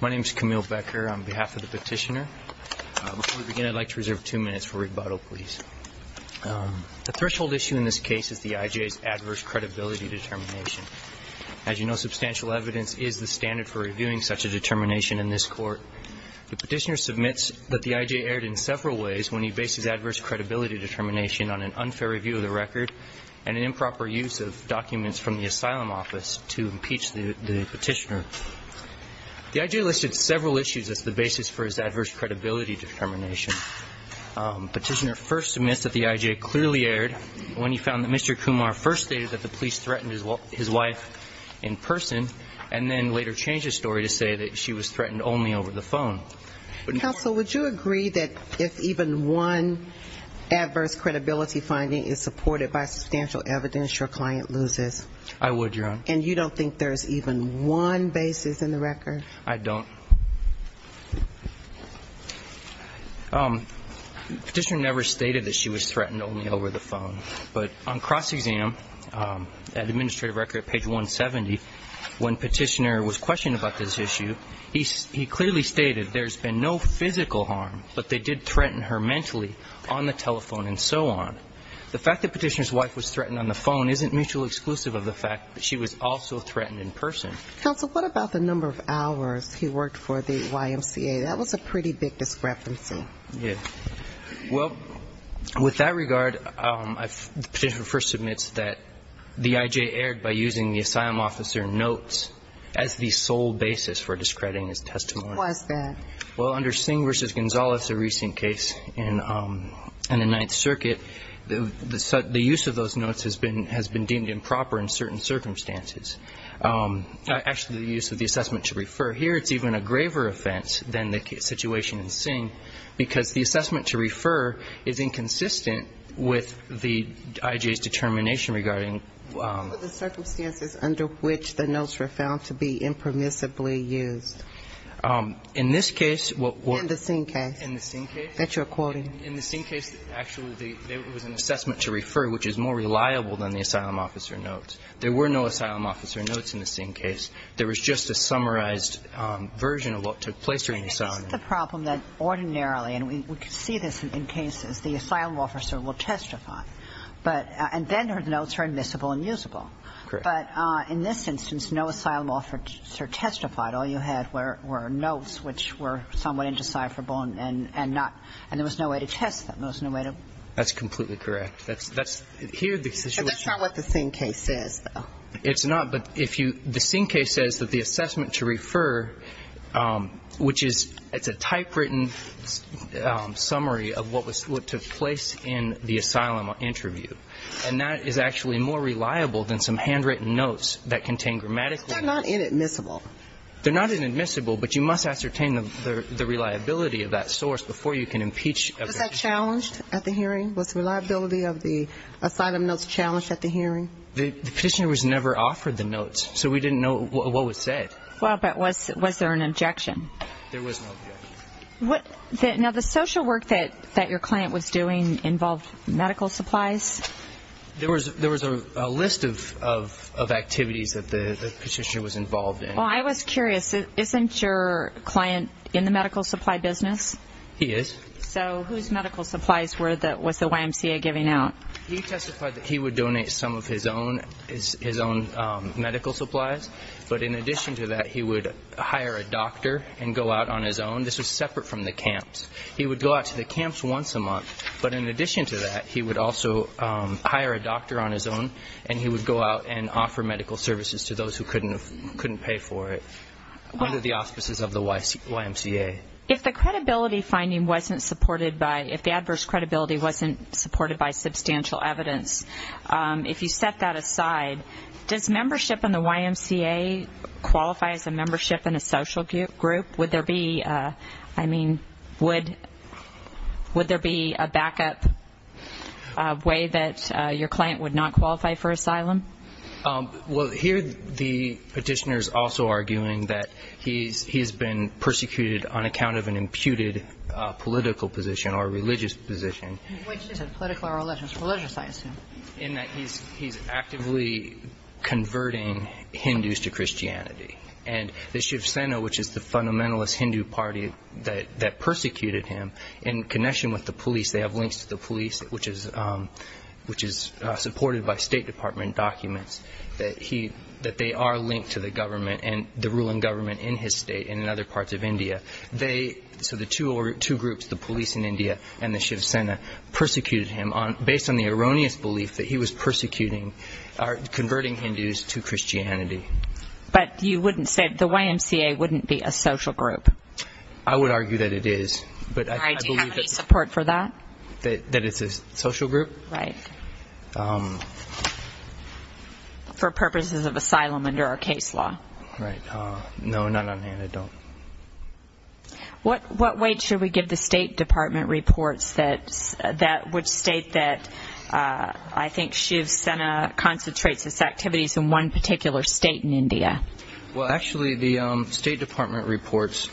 My name is Camille Becker on behalf of the petitioner. Before we begin, I'd like to reserve two minutes for rebuttal, please. The threshold issue in this case is the I.J.'s adverse credibility determination. As you know, substantial evidence is the standard for reviewing such a determination in this court. The petitioner submits that the I.J. erred in several ways when he based his adverse credibility determination on an unfair review of the record and an improper use of documents from the asylum office to impeach the petitioner. The I.J. listed several issues as the basis for his adverse credibility determination. Petitioner first submits that the I.J. clearly erred when he found that Mr. Kumar first stated that the police threatened his wife in person and then later changed his story to say that she was threatened only over the phone. Counsel, would you agree that if even one adverse credibility finding is supported by substantial evidence, your client loses? I would, Your Honor. And you don't think there's even one basis in the record? I don't. Petitioner never stated that she was threatened only over the phone. But on cross-exam at administrative record, page 170, when petitioner was questioned about this issue, he clearly stated there's been no physical harm, but they did threaten her mentally on the telephone and so on. The fact that petitioner's wife was threatened on the phone isn't mutually exclusive of the fact that she was also threatened in person. Counsel, what about the number of hours he worked for the YMCA? That was a pretty big discrepancy. Well, with that regard, petitioner first admits that the I.J. erred by using the asylum officer notes as the sole basis for discrediting his testimony. Why is that? Well, under Singh v. Gonzales, a recent case in the Ninth Circuit, the use of those notes has been deemed improper in certain circumstances. Actually, the use of the assessment should refer here, it's even a graver offense than the situation in Singh because the assessment to refer is inconsistent with the I.J.'s determination regarding What were the circumstances under which the notes were found to be impermissibly used? In this case, what were In the Singh case In the Singh case That you're quoting In the Singh case, actually, there was an assessment to refer which is more reliable than the asylum officer notes. There were no asylum officer notes in the Singh case. There was just a summarized version of what took place during the asylum. The problem that ordinarily, and we see this in cases, the asylum officer will testify, but then her notes are admissible and usable. Correct. But in this instance, no asylum officer testified. All you had were notes which were somewhat indecipherable and not – and there was no way to test them. There was no way to That's completely correct. That's – here the situation But that's not what the Singh case says, though. It's not. But if you – the Singh case says that the assessment to refer, which is – it's a typewritten summary of what was – what took place in the asylum interview. And that is actually more reliable than some handwritten notes that contain grammatically They're not inadmissible. They're not inadmissible, but you must ascertain the reliability of that source before you can impeach Was that challenged at the hearing? Was the reliability of the asylum notes challenged at the hearing? The petitioner was never offered the notes, so we didn't know what was said. Well, but was there an objection? There was no objection. Now, the social work that your client was doing involved medical supplies? There was a list of activities that the petitioner was involved in. Well, I was curious. Isn't your client in the medical supply business? He is. So whose medical supplies were the – was the YMCA giving out? He testified that he would donate some of his own medical supplies. But in addition to that, he would hire a doctor and go out on his own. This was separate from the camps. He would go out to the camps once a month. But in addition to that, he would also hire a doctor on his own, and he would go out and offer medical services to those who couldn't pay for it under the auspices of the YMCA. If the credibility finding wasn't supported by – if the adverse credibility wasn't supported by substantial evidence, if you set that aside, does membership in the YMCA qualify as a membership in a social group? Would there be, I mean, would there be a backup way that your client would not qualify for asylum? Well, here the petitioner is also arguing that he's been persecuted on account of an imputed political position or religious position. Which is it, political or religious? Religious, I assume. In that he's actively converting Hindus to Christianity. And the Shiv Sena, which is the fundamentalist Hindu party that persecuted him, in connection with the police, they have links to the police, which is supported by State Department documents, that they are linked to the government and the ruling government in his state and in other parts of India. So the two groups, the police in India and the Shiv Sena, persecuted him based on the erroneous belief that he was persecuting or converting Hindus to Christianity. But you wouldn't say – the YMCA wouldn't be a social group? I would argue that it is. Do you have any support for that? That it's a social group? Right. For purposes of asylum under our case law. Right. No, not on hand. I don't. What weight should we give the State Department reports that would state that I think Shiv Sena concentrates its activities in one particular state in India? Well, actually, the State Department reports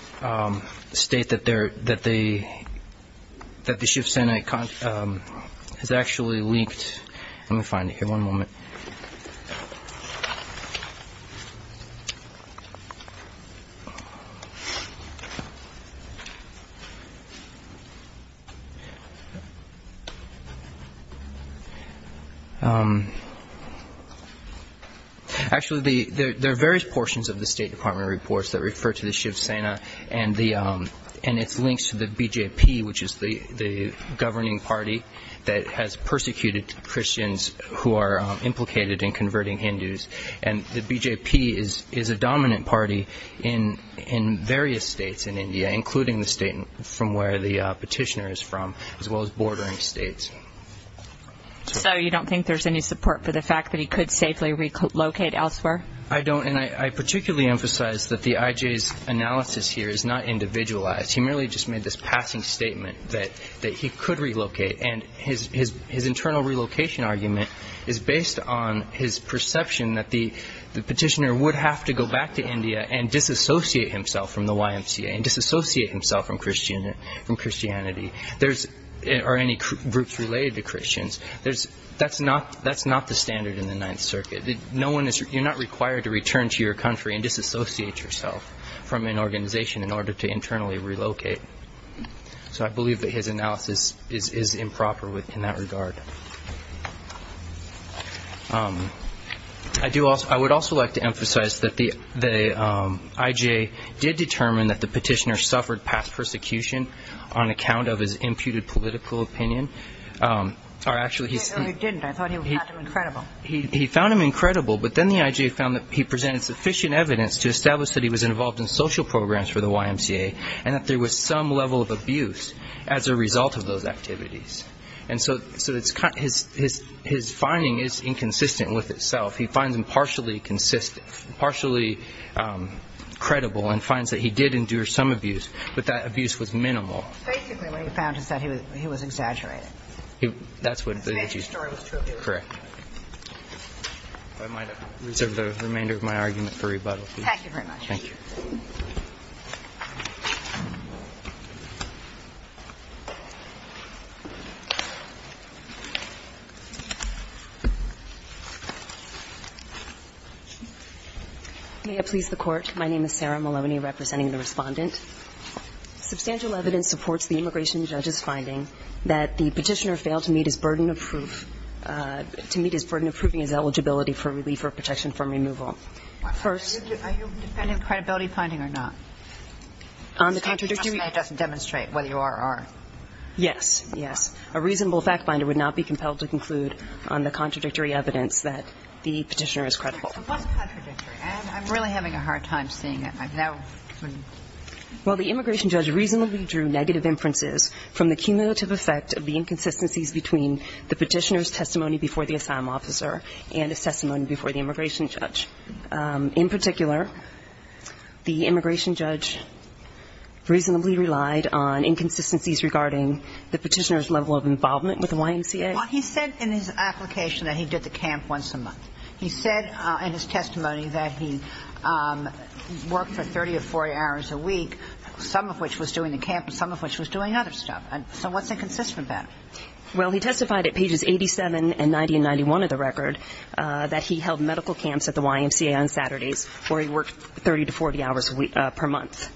state that the Shiv Sena has actually linked – let me find it here, one moment. Actually, there are various portions of the State Department reports that refer to the Shiv Sena and its links to the BJP, which is the governing party that has persecuted Christians who are implicated in converting Hindus. And the BJP is a dominant party in various states in India, including the state from where the petitioner is from, as well as bordering states. So you don't think there's any support for the fact that he could safely relocate elsewhere? I don't. And I particularly emphasize that the IJ's analysis here is not individualized. He merely just made this passing statement that he could relocate. And his internal relocation argument is based on his perception that the petitioner would have to go back to India and disassociate himself from the YMCA and disassociate himself from Christianity or any groups related to Christians. That's not the standard in the Ninth Circuit. You're not required to return to your country and disassociate yourself from an organization in order to internally relocate. So I believe that his analysis is improper in that regard. I would also like to emphasize that the IJ did determine that the petitioner suffered past persecution on account of his imputed political opinion. He found him incredible, but then the IJ found that he presented sufficient evidence to establish that he was involved in social programs for the YMCA and that there was some level of abuse as a result of those activities. And so his finding is inconsistent with itself. He finds him partially consistent, partially credible and finds that he did endure some abuse, but that abuse was minimal. Basically what he found is that he was exaggerating. That's what the IJ said. Correct. I might reserve the remainder of my argument for rebuttal. Thank you very much. Thank you. Ms. Maloney. May I please the Court? My name is Sarah Maloney representing the Respondent. Substantial evidence supports the immigration judge's finding that the petitioner failed to meet his burden of proof to meet his burden of proving his eligibility for relief or protection from removal. Are you defending credibility finding or not? On the contradictory evidence that the petitioner is credible. What's contradictory? I'm really having a hard time seeing it. Well, the immigration judge reasonably drew negative inferences from the cumulative effect of the inconsistencies between the petitioner's testimony before the asylum officer and his testimony before the immigration judge. The immigration judge reasonably relied on inconsistencies regarding the petitioner's level of involvement with the YMCA? Well, he said in his application that he did the camp once a month. He said in his testimony that he worked for 30 or 40 hours a week, some of which was doing the camp and some of which was doing other stuff. So what's inconsistent about it? Well, he testified at pages 87 and 90 and 91 of the record that he held medical camps at the YMCA on Saturdays where he worked 30 to 40 hours per month.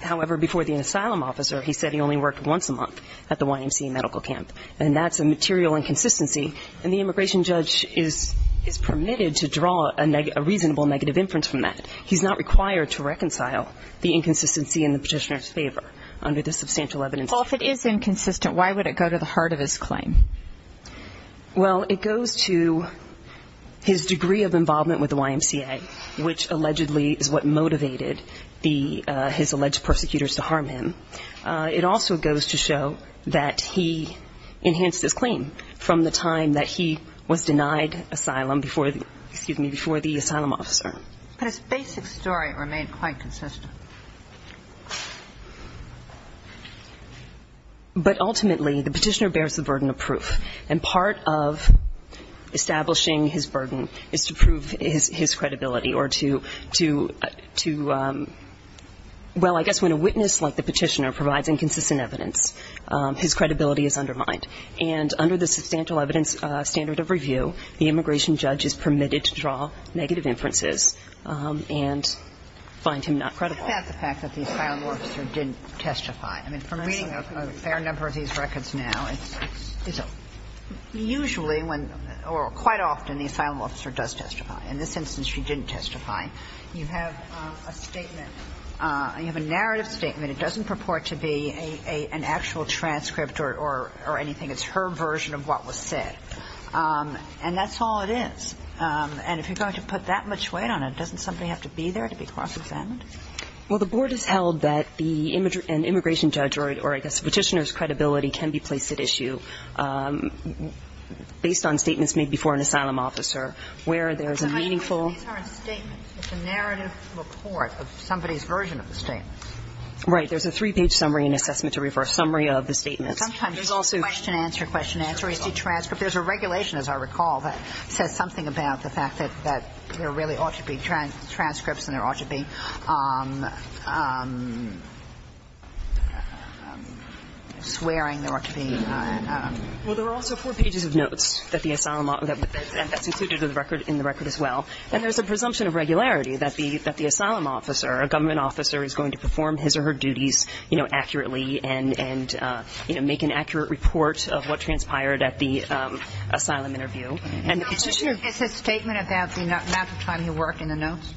However, before the asylum officer, he said he only worked once a month at the YMCA medical camp. And that's a material inconsistency. And the immigration judge is permitted to draw a reasonable negative inference from that. He's not required to reconcile the inconsistency in the petitioner's favor under the substantial evidence. Well, if it is inconsistent, why would it go to the heart of his claim? Well, it goes to his degree of involvement with the YMCA, which allegedly is what motivated his alleged persecutors to harm him. It also goes to show that he enhanced his claim from the time that he was denied asylum before the asylum officer. But his basic story remained quite consistent. But ultimately, the petitioner bears the burden of proof. And part of establishing his burden is to prove his credibility or to, well, I guess when a witness like the petitioner provides inconsistent evidence, his credibility is undermined. And under the substantial evidence standard of review, the immigration judge is that the asylum officer didn't testify. I mean, from reading a fair number of these records now, it's usually, or quite often, the asylum officer does testify. In this instance, she didn't testify. You have a statement. You have a narrative statement. It doesn't purport to be an actual transcript or anything. It's her version of what was said. And that's all it is. And if you're going to put that much weight on it, doesn't somebody have to be there to be cross-examined? Well, the board has held that the immigration judge or, I guess, the petitioner's credibility can be placed at issue based on statements made before an asylum officer where there's a meaningful. But these aren't statements. It's a narrative report of somebody's version of the statement. Right. There's a three-page summary and assessment to refer a summary of the statements. Sometimes there's also question, answer, question, answer. You see transcripts. There's a regulation, as I recall, that says something about the fact that there really ought to be transcripts and there ought to be swearing. There ought to be. Well, there are also four pages of notes that the asylum officer, and that's included in the record as well. And there's a presumption of regularity that the asylum officer, a government officer, is going to perform his or her duties, you know, accurately and, you know, make an accurate report of what transpired at the asylum interview. And the Petitioner It's a statement about the amount of time he worked in the notes?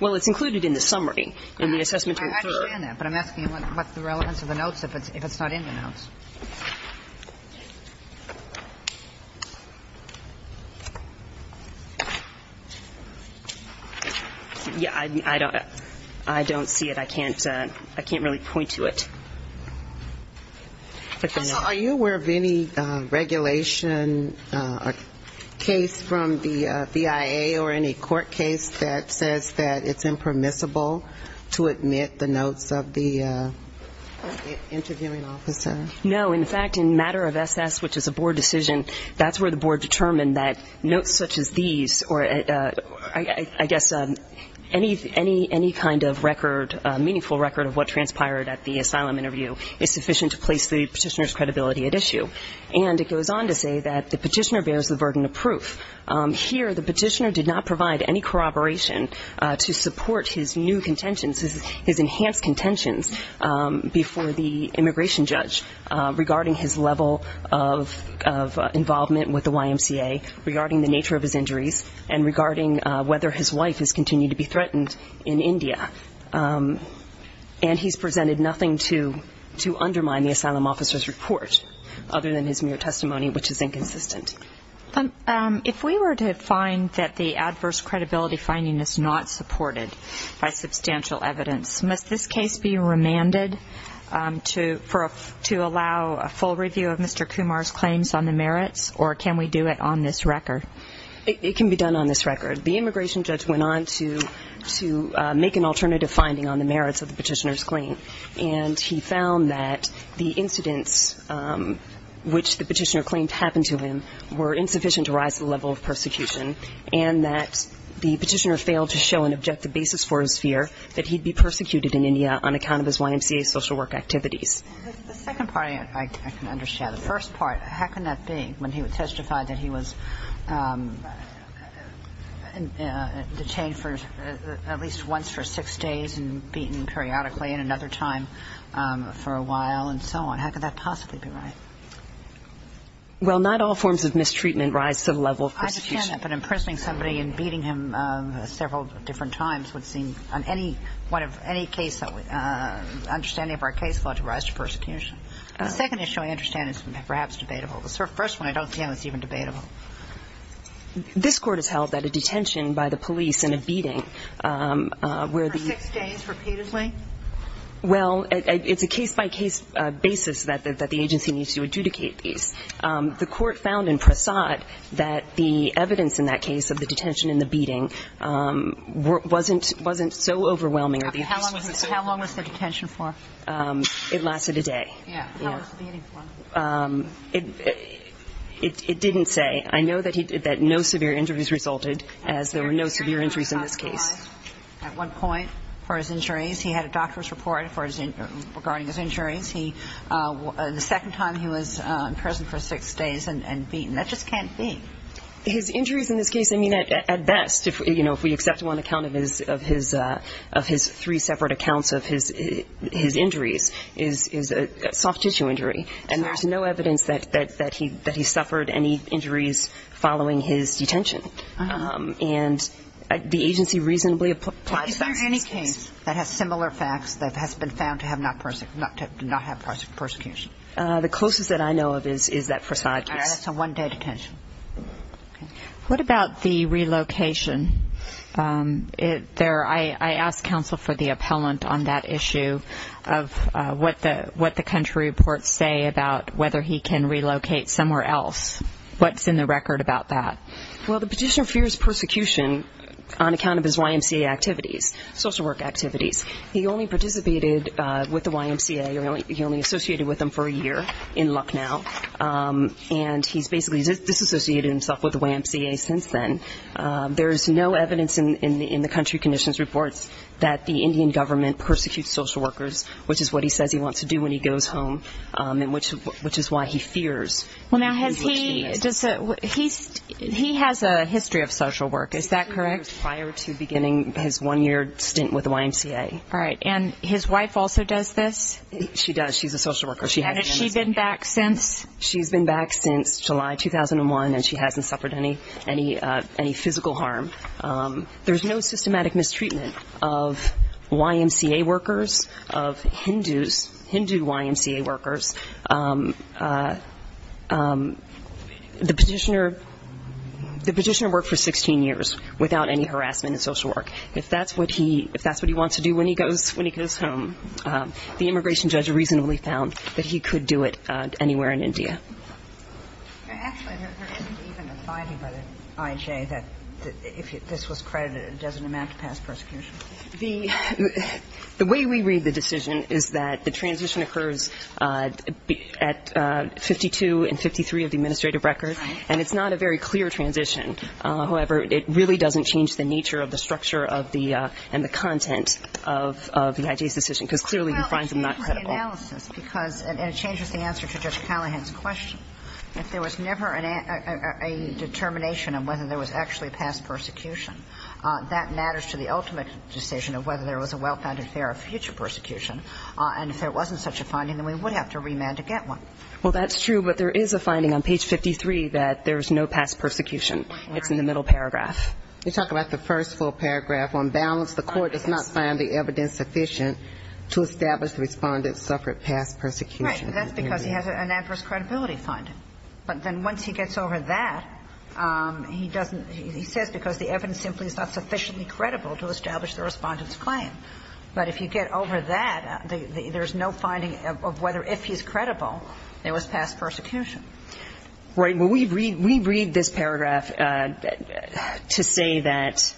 Well, it's included in the summary, in the assessment to refer. I understand that. But I'm asking what's the relevance of the notes if it's not in the notes. Yeah, I don't see it. I can't really point to it. Are you aware of any regulation or case from the BIA or any court case that says that it's impermissible to admit the notes of the interviewing officer? No. In fact, in matter of SS, which is a board decision, that's where the board determined that notes such as these or, I guess, any kind of record, meaningful record of what transpired at the asylum interview is sufficient to place the Petitioner's credibility at issue. And it goes on to say that the Petitioner bears the burden of proof. Here, the Petitioner did not provide any corroboration to support his new contentions before the immigration judge regarding his level of involvement with the YMCA, regarding the nature of his injuries, and regarding whether his wife has continued to be threatened in India. And he's presented nothing to undermine the asylum officer's report other than his mere testimony, which is inconsistent. If we were to find that the adverse credibility finding is not supported by the YMCA, can the case be remanded to allow a full review of Mr. Kumar's claims on the merits, or can we do it on this record? It can be done on this record. The immigration judge went on to make an alternative finding on the merits of the Petitioner's claim, and he found that the incidents which the Petitioner claimed happened to him were insufficient to rise the level of persecution, and that the Petitioner failed to show an objective basis for his fear that he'd be persecuted in India on account of his YMCA social work activities. The second part I can understand. The first part, how can that be? When he testified that he was detained for at least once for six days and beaten periodically and another time for a while and so on, how could that possibly be right? Well, not all forms of mistreatment rise to the level of persecution. I understand that, but imprisoning somebody and beating him several different times would seem on any case understanding of our case law to rise to persecution. The second issue I understand is perhaps debatable. The first one I don't see how it's even debatable. This Court has held that a detention by the police and a beating where the ---- For six days repeatedly? Well, it's a case-by-case basis that the agency needs to adjudicate these. The Court found in Prasad that the evidence in that case of the detention and the beating wasn't so overwhelming. How long was the detention for? It lasted a day. How was the beating for? It didn't say. I know that no severe injuries resulted as there were no severe injuries in this case. At one point for his injuries, he had a doctor's report regarding his injuries. The second time he was in prison for six days and beaten. That just can't be. His injuries in this case, I mean, at best, you know, if we accept one account of his three separate accounts of his injuries, is a soft-tissue injury. And there's no evidence that he suffered any injuries following his detention. And the agency reasonably applies that. Is there any case that has similar facts that has been found to not have persecution? The closest that I know of is that Prasad case. That's a one-day detention. What about the relocation? I asked counsel for the appellant on that issue of what the country reports say about whether he can relocate somewhere else. What's in the record about that? Well, the petitioner fears persecution on account of his YMCA activities, social work activities. He only participated with the YMCA. He only associated with them for a year in Lucknow. And he's basically disassociated himself with the YMCA since then. There's no evidence in the country conditions reports that the Indian government persecutes social workers, which is what he says he wants to do when he goes home, and which is why he fears. Well, now, has he does that? He has a history of social work, is that correct? Prior to beginning his one-year stint with the YMCA. All right. And his wife also does this? She does. She's a social worker. And has she been back since? She's been back since July 2001, and she hasn't suffered any physical harm. There's no systematic mistreatment of YMCA workers, of Hindus, Hindu YMCA workers. The petitioner worked for 16 years without any harassment in social work. If that's what he wants to do when he goes home, the immigration judge reasonably found that he could do it anywhere in India. Actually, there isn't even a finding by the IJA that if this was credited, it doesn't amount to past persecution. The way we read the decision is that the transition occurs at 52 and 53 of the administrative records, and it's not a very clear transition. However, it really doesn't change the nature of the structure of the and the content of the IJA's decision, because clearly he finds them not credible. Well, it changes the analysis, because it changes the answer to Judge Callahan's question. If there was never a determination of whether there was actually past persecution, that matters to the ultimate decision of whether there was a well-founded fear of future persecution. And if there wasn't such a finding, then we would have to remand to get one. Well, that's true, but there is a finding on page 53 that there's no past persecution. It's in the middle paragraph. You talk about the first full paragraph. On balance, the Court does not find the evidence sufficient to establish the Respondent suffered past persecution. Right. That's because he has an adverse credibility finding. But then once he gets over that, he doesn't he says because the evidence simply is not sufficiently credible to establish the Respondent's claim. But if you get over that, there's no finding of whether if he's credible, there was past persecution. Right. Well, we read this paragraph to say that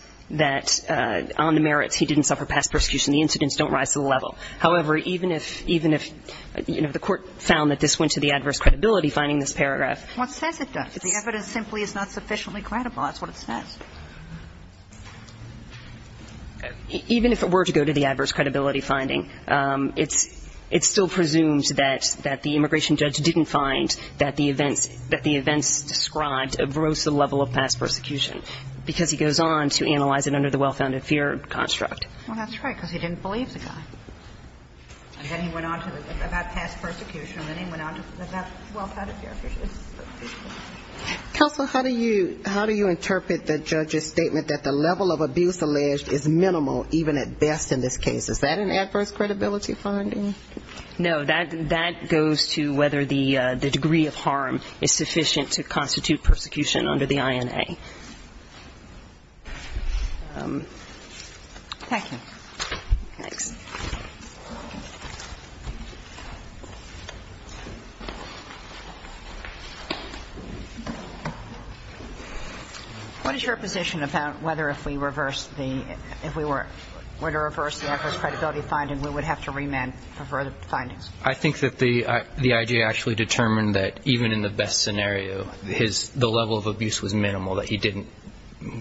on the merits he didn't suffer past persecution. The incidents don't rise to the level. However, even if the Court found that this went to the adverse credibility finding in this paragraph. Well, it says it does. The evidence simply is not sufficiently credible. That's what it says. Even if it were to go to the adverse credibility finding, it's still presumed that the immigration judge didn't find that the events described arose to the level of past persecution. Because he goes on to analyze it under the well-founded fear construct. Well, that's right. Because he didn't believe the guy. And then he went on to about past persecution. And then he went on to about well-founded fear. Counsel, how do you interpret the judge's statement that the level of abuse alleged is minimal even at best in this case? Is that an adverse credibility finding? No. That goes to whether the degree of harm is sufficient to constitute persecution under the INA. Thank you. Thanks. What is your position about whether if we reverse the ‑‑ if we were to reverse the adverse credibility finding, we would have to remand for further findings? I think that the I.J. actually determined that even in the best scenario, the level of abuse was minimal, that he didn't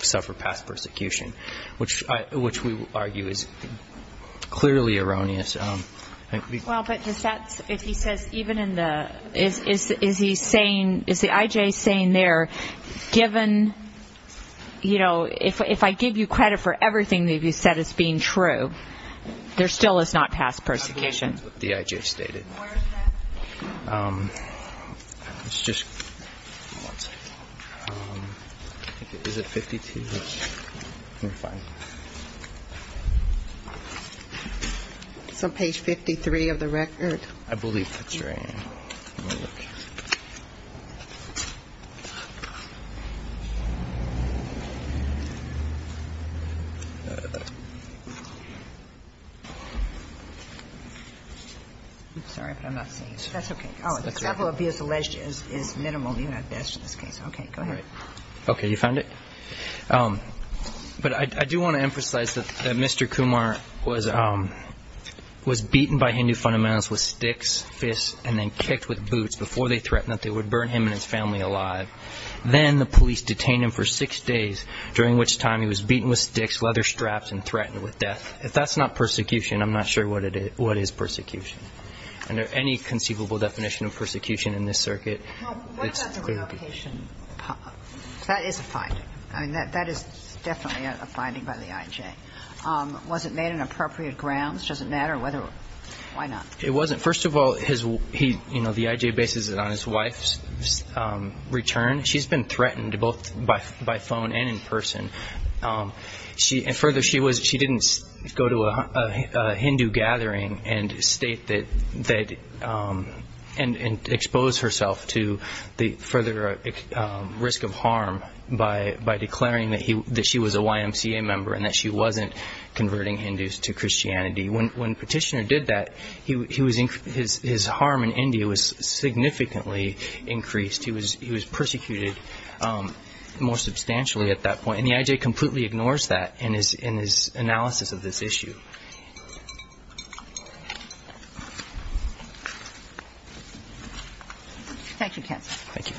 suffer past persecution, which we argue is clearly erroneous. Well, but if he says even in the ‑‑ is he saying ‑‑ is the I.J. saying there, given, you know, if I give you credit for everything that you said as being true, there still is not past persecution. The I.J. stated. It's just ‑‑ is it 52? We're fine. It's on page 53 of the record. I believe that's right. Sorry, but I'm not seeing it. That's okay. The level of abuse alleged is minimal in this case. Okay. Go ahead. Okay. You found it? But I do want to emphasize that Mr. Kumar was beaten by Hindu fundamentals with sticks, fists, and then kicked with boots before they threatened that they would burn him and his family alive. Then the police detained him for six days, during which time he was beaten with sticks, leather straps, and threatened with death. If that's not persecution, I'm not sure what is persecution. Under any conceivable definition of persecution in this circuit, it's clearly ‑‑ Well, what about the relocation? That is a finding. I mean, that is definitely a finding by the I.J. Was it made on appropriate grounds? Does it matter whether ‑‑ why not? It wasn't. First of all, the I.J. bases it on his wife's return. She's been threatened both by phone and in person. And further, she didn't go to a Hindu gathering and state that ‑‑ and expose herself to the further risk of harm by declaring that she was a YMCA member and that she wasn't converting Hindus to Christianity. When Petitioner did that, his harm in India was significantly increased. He was persecuted more substantially at that point. And the I.J. completely ignores that in his analysis of this issue. Thank you, counsel. Thank you.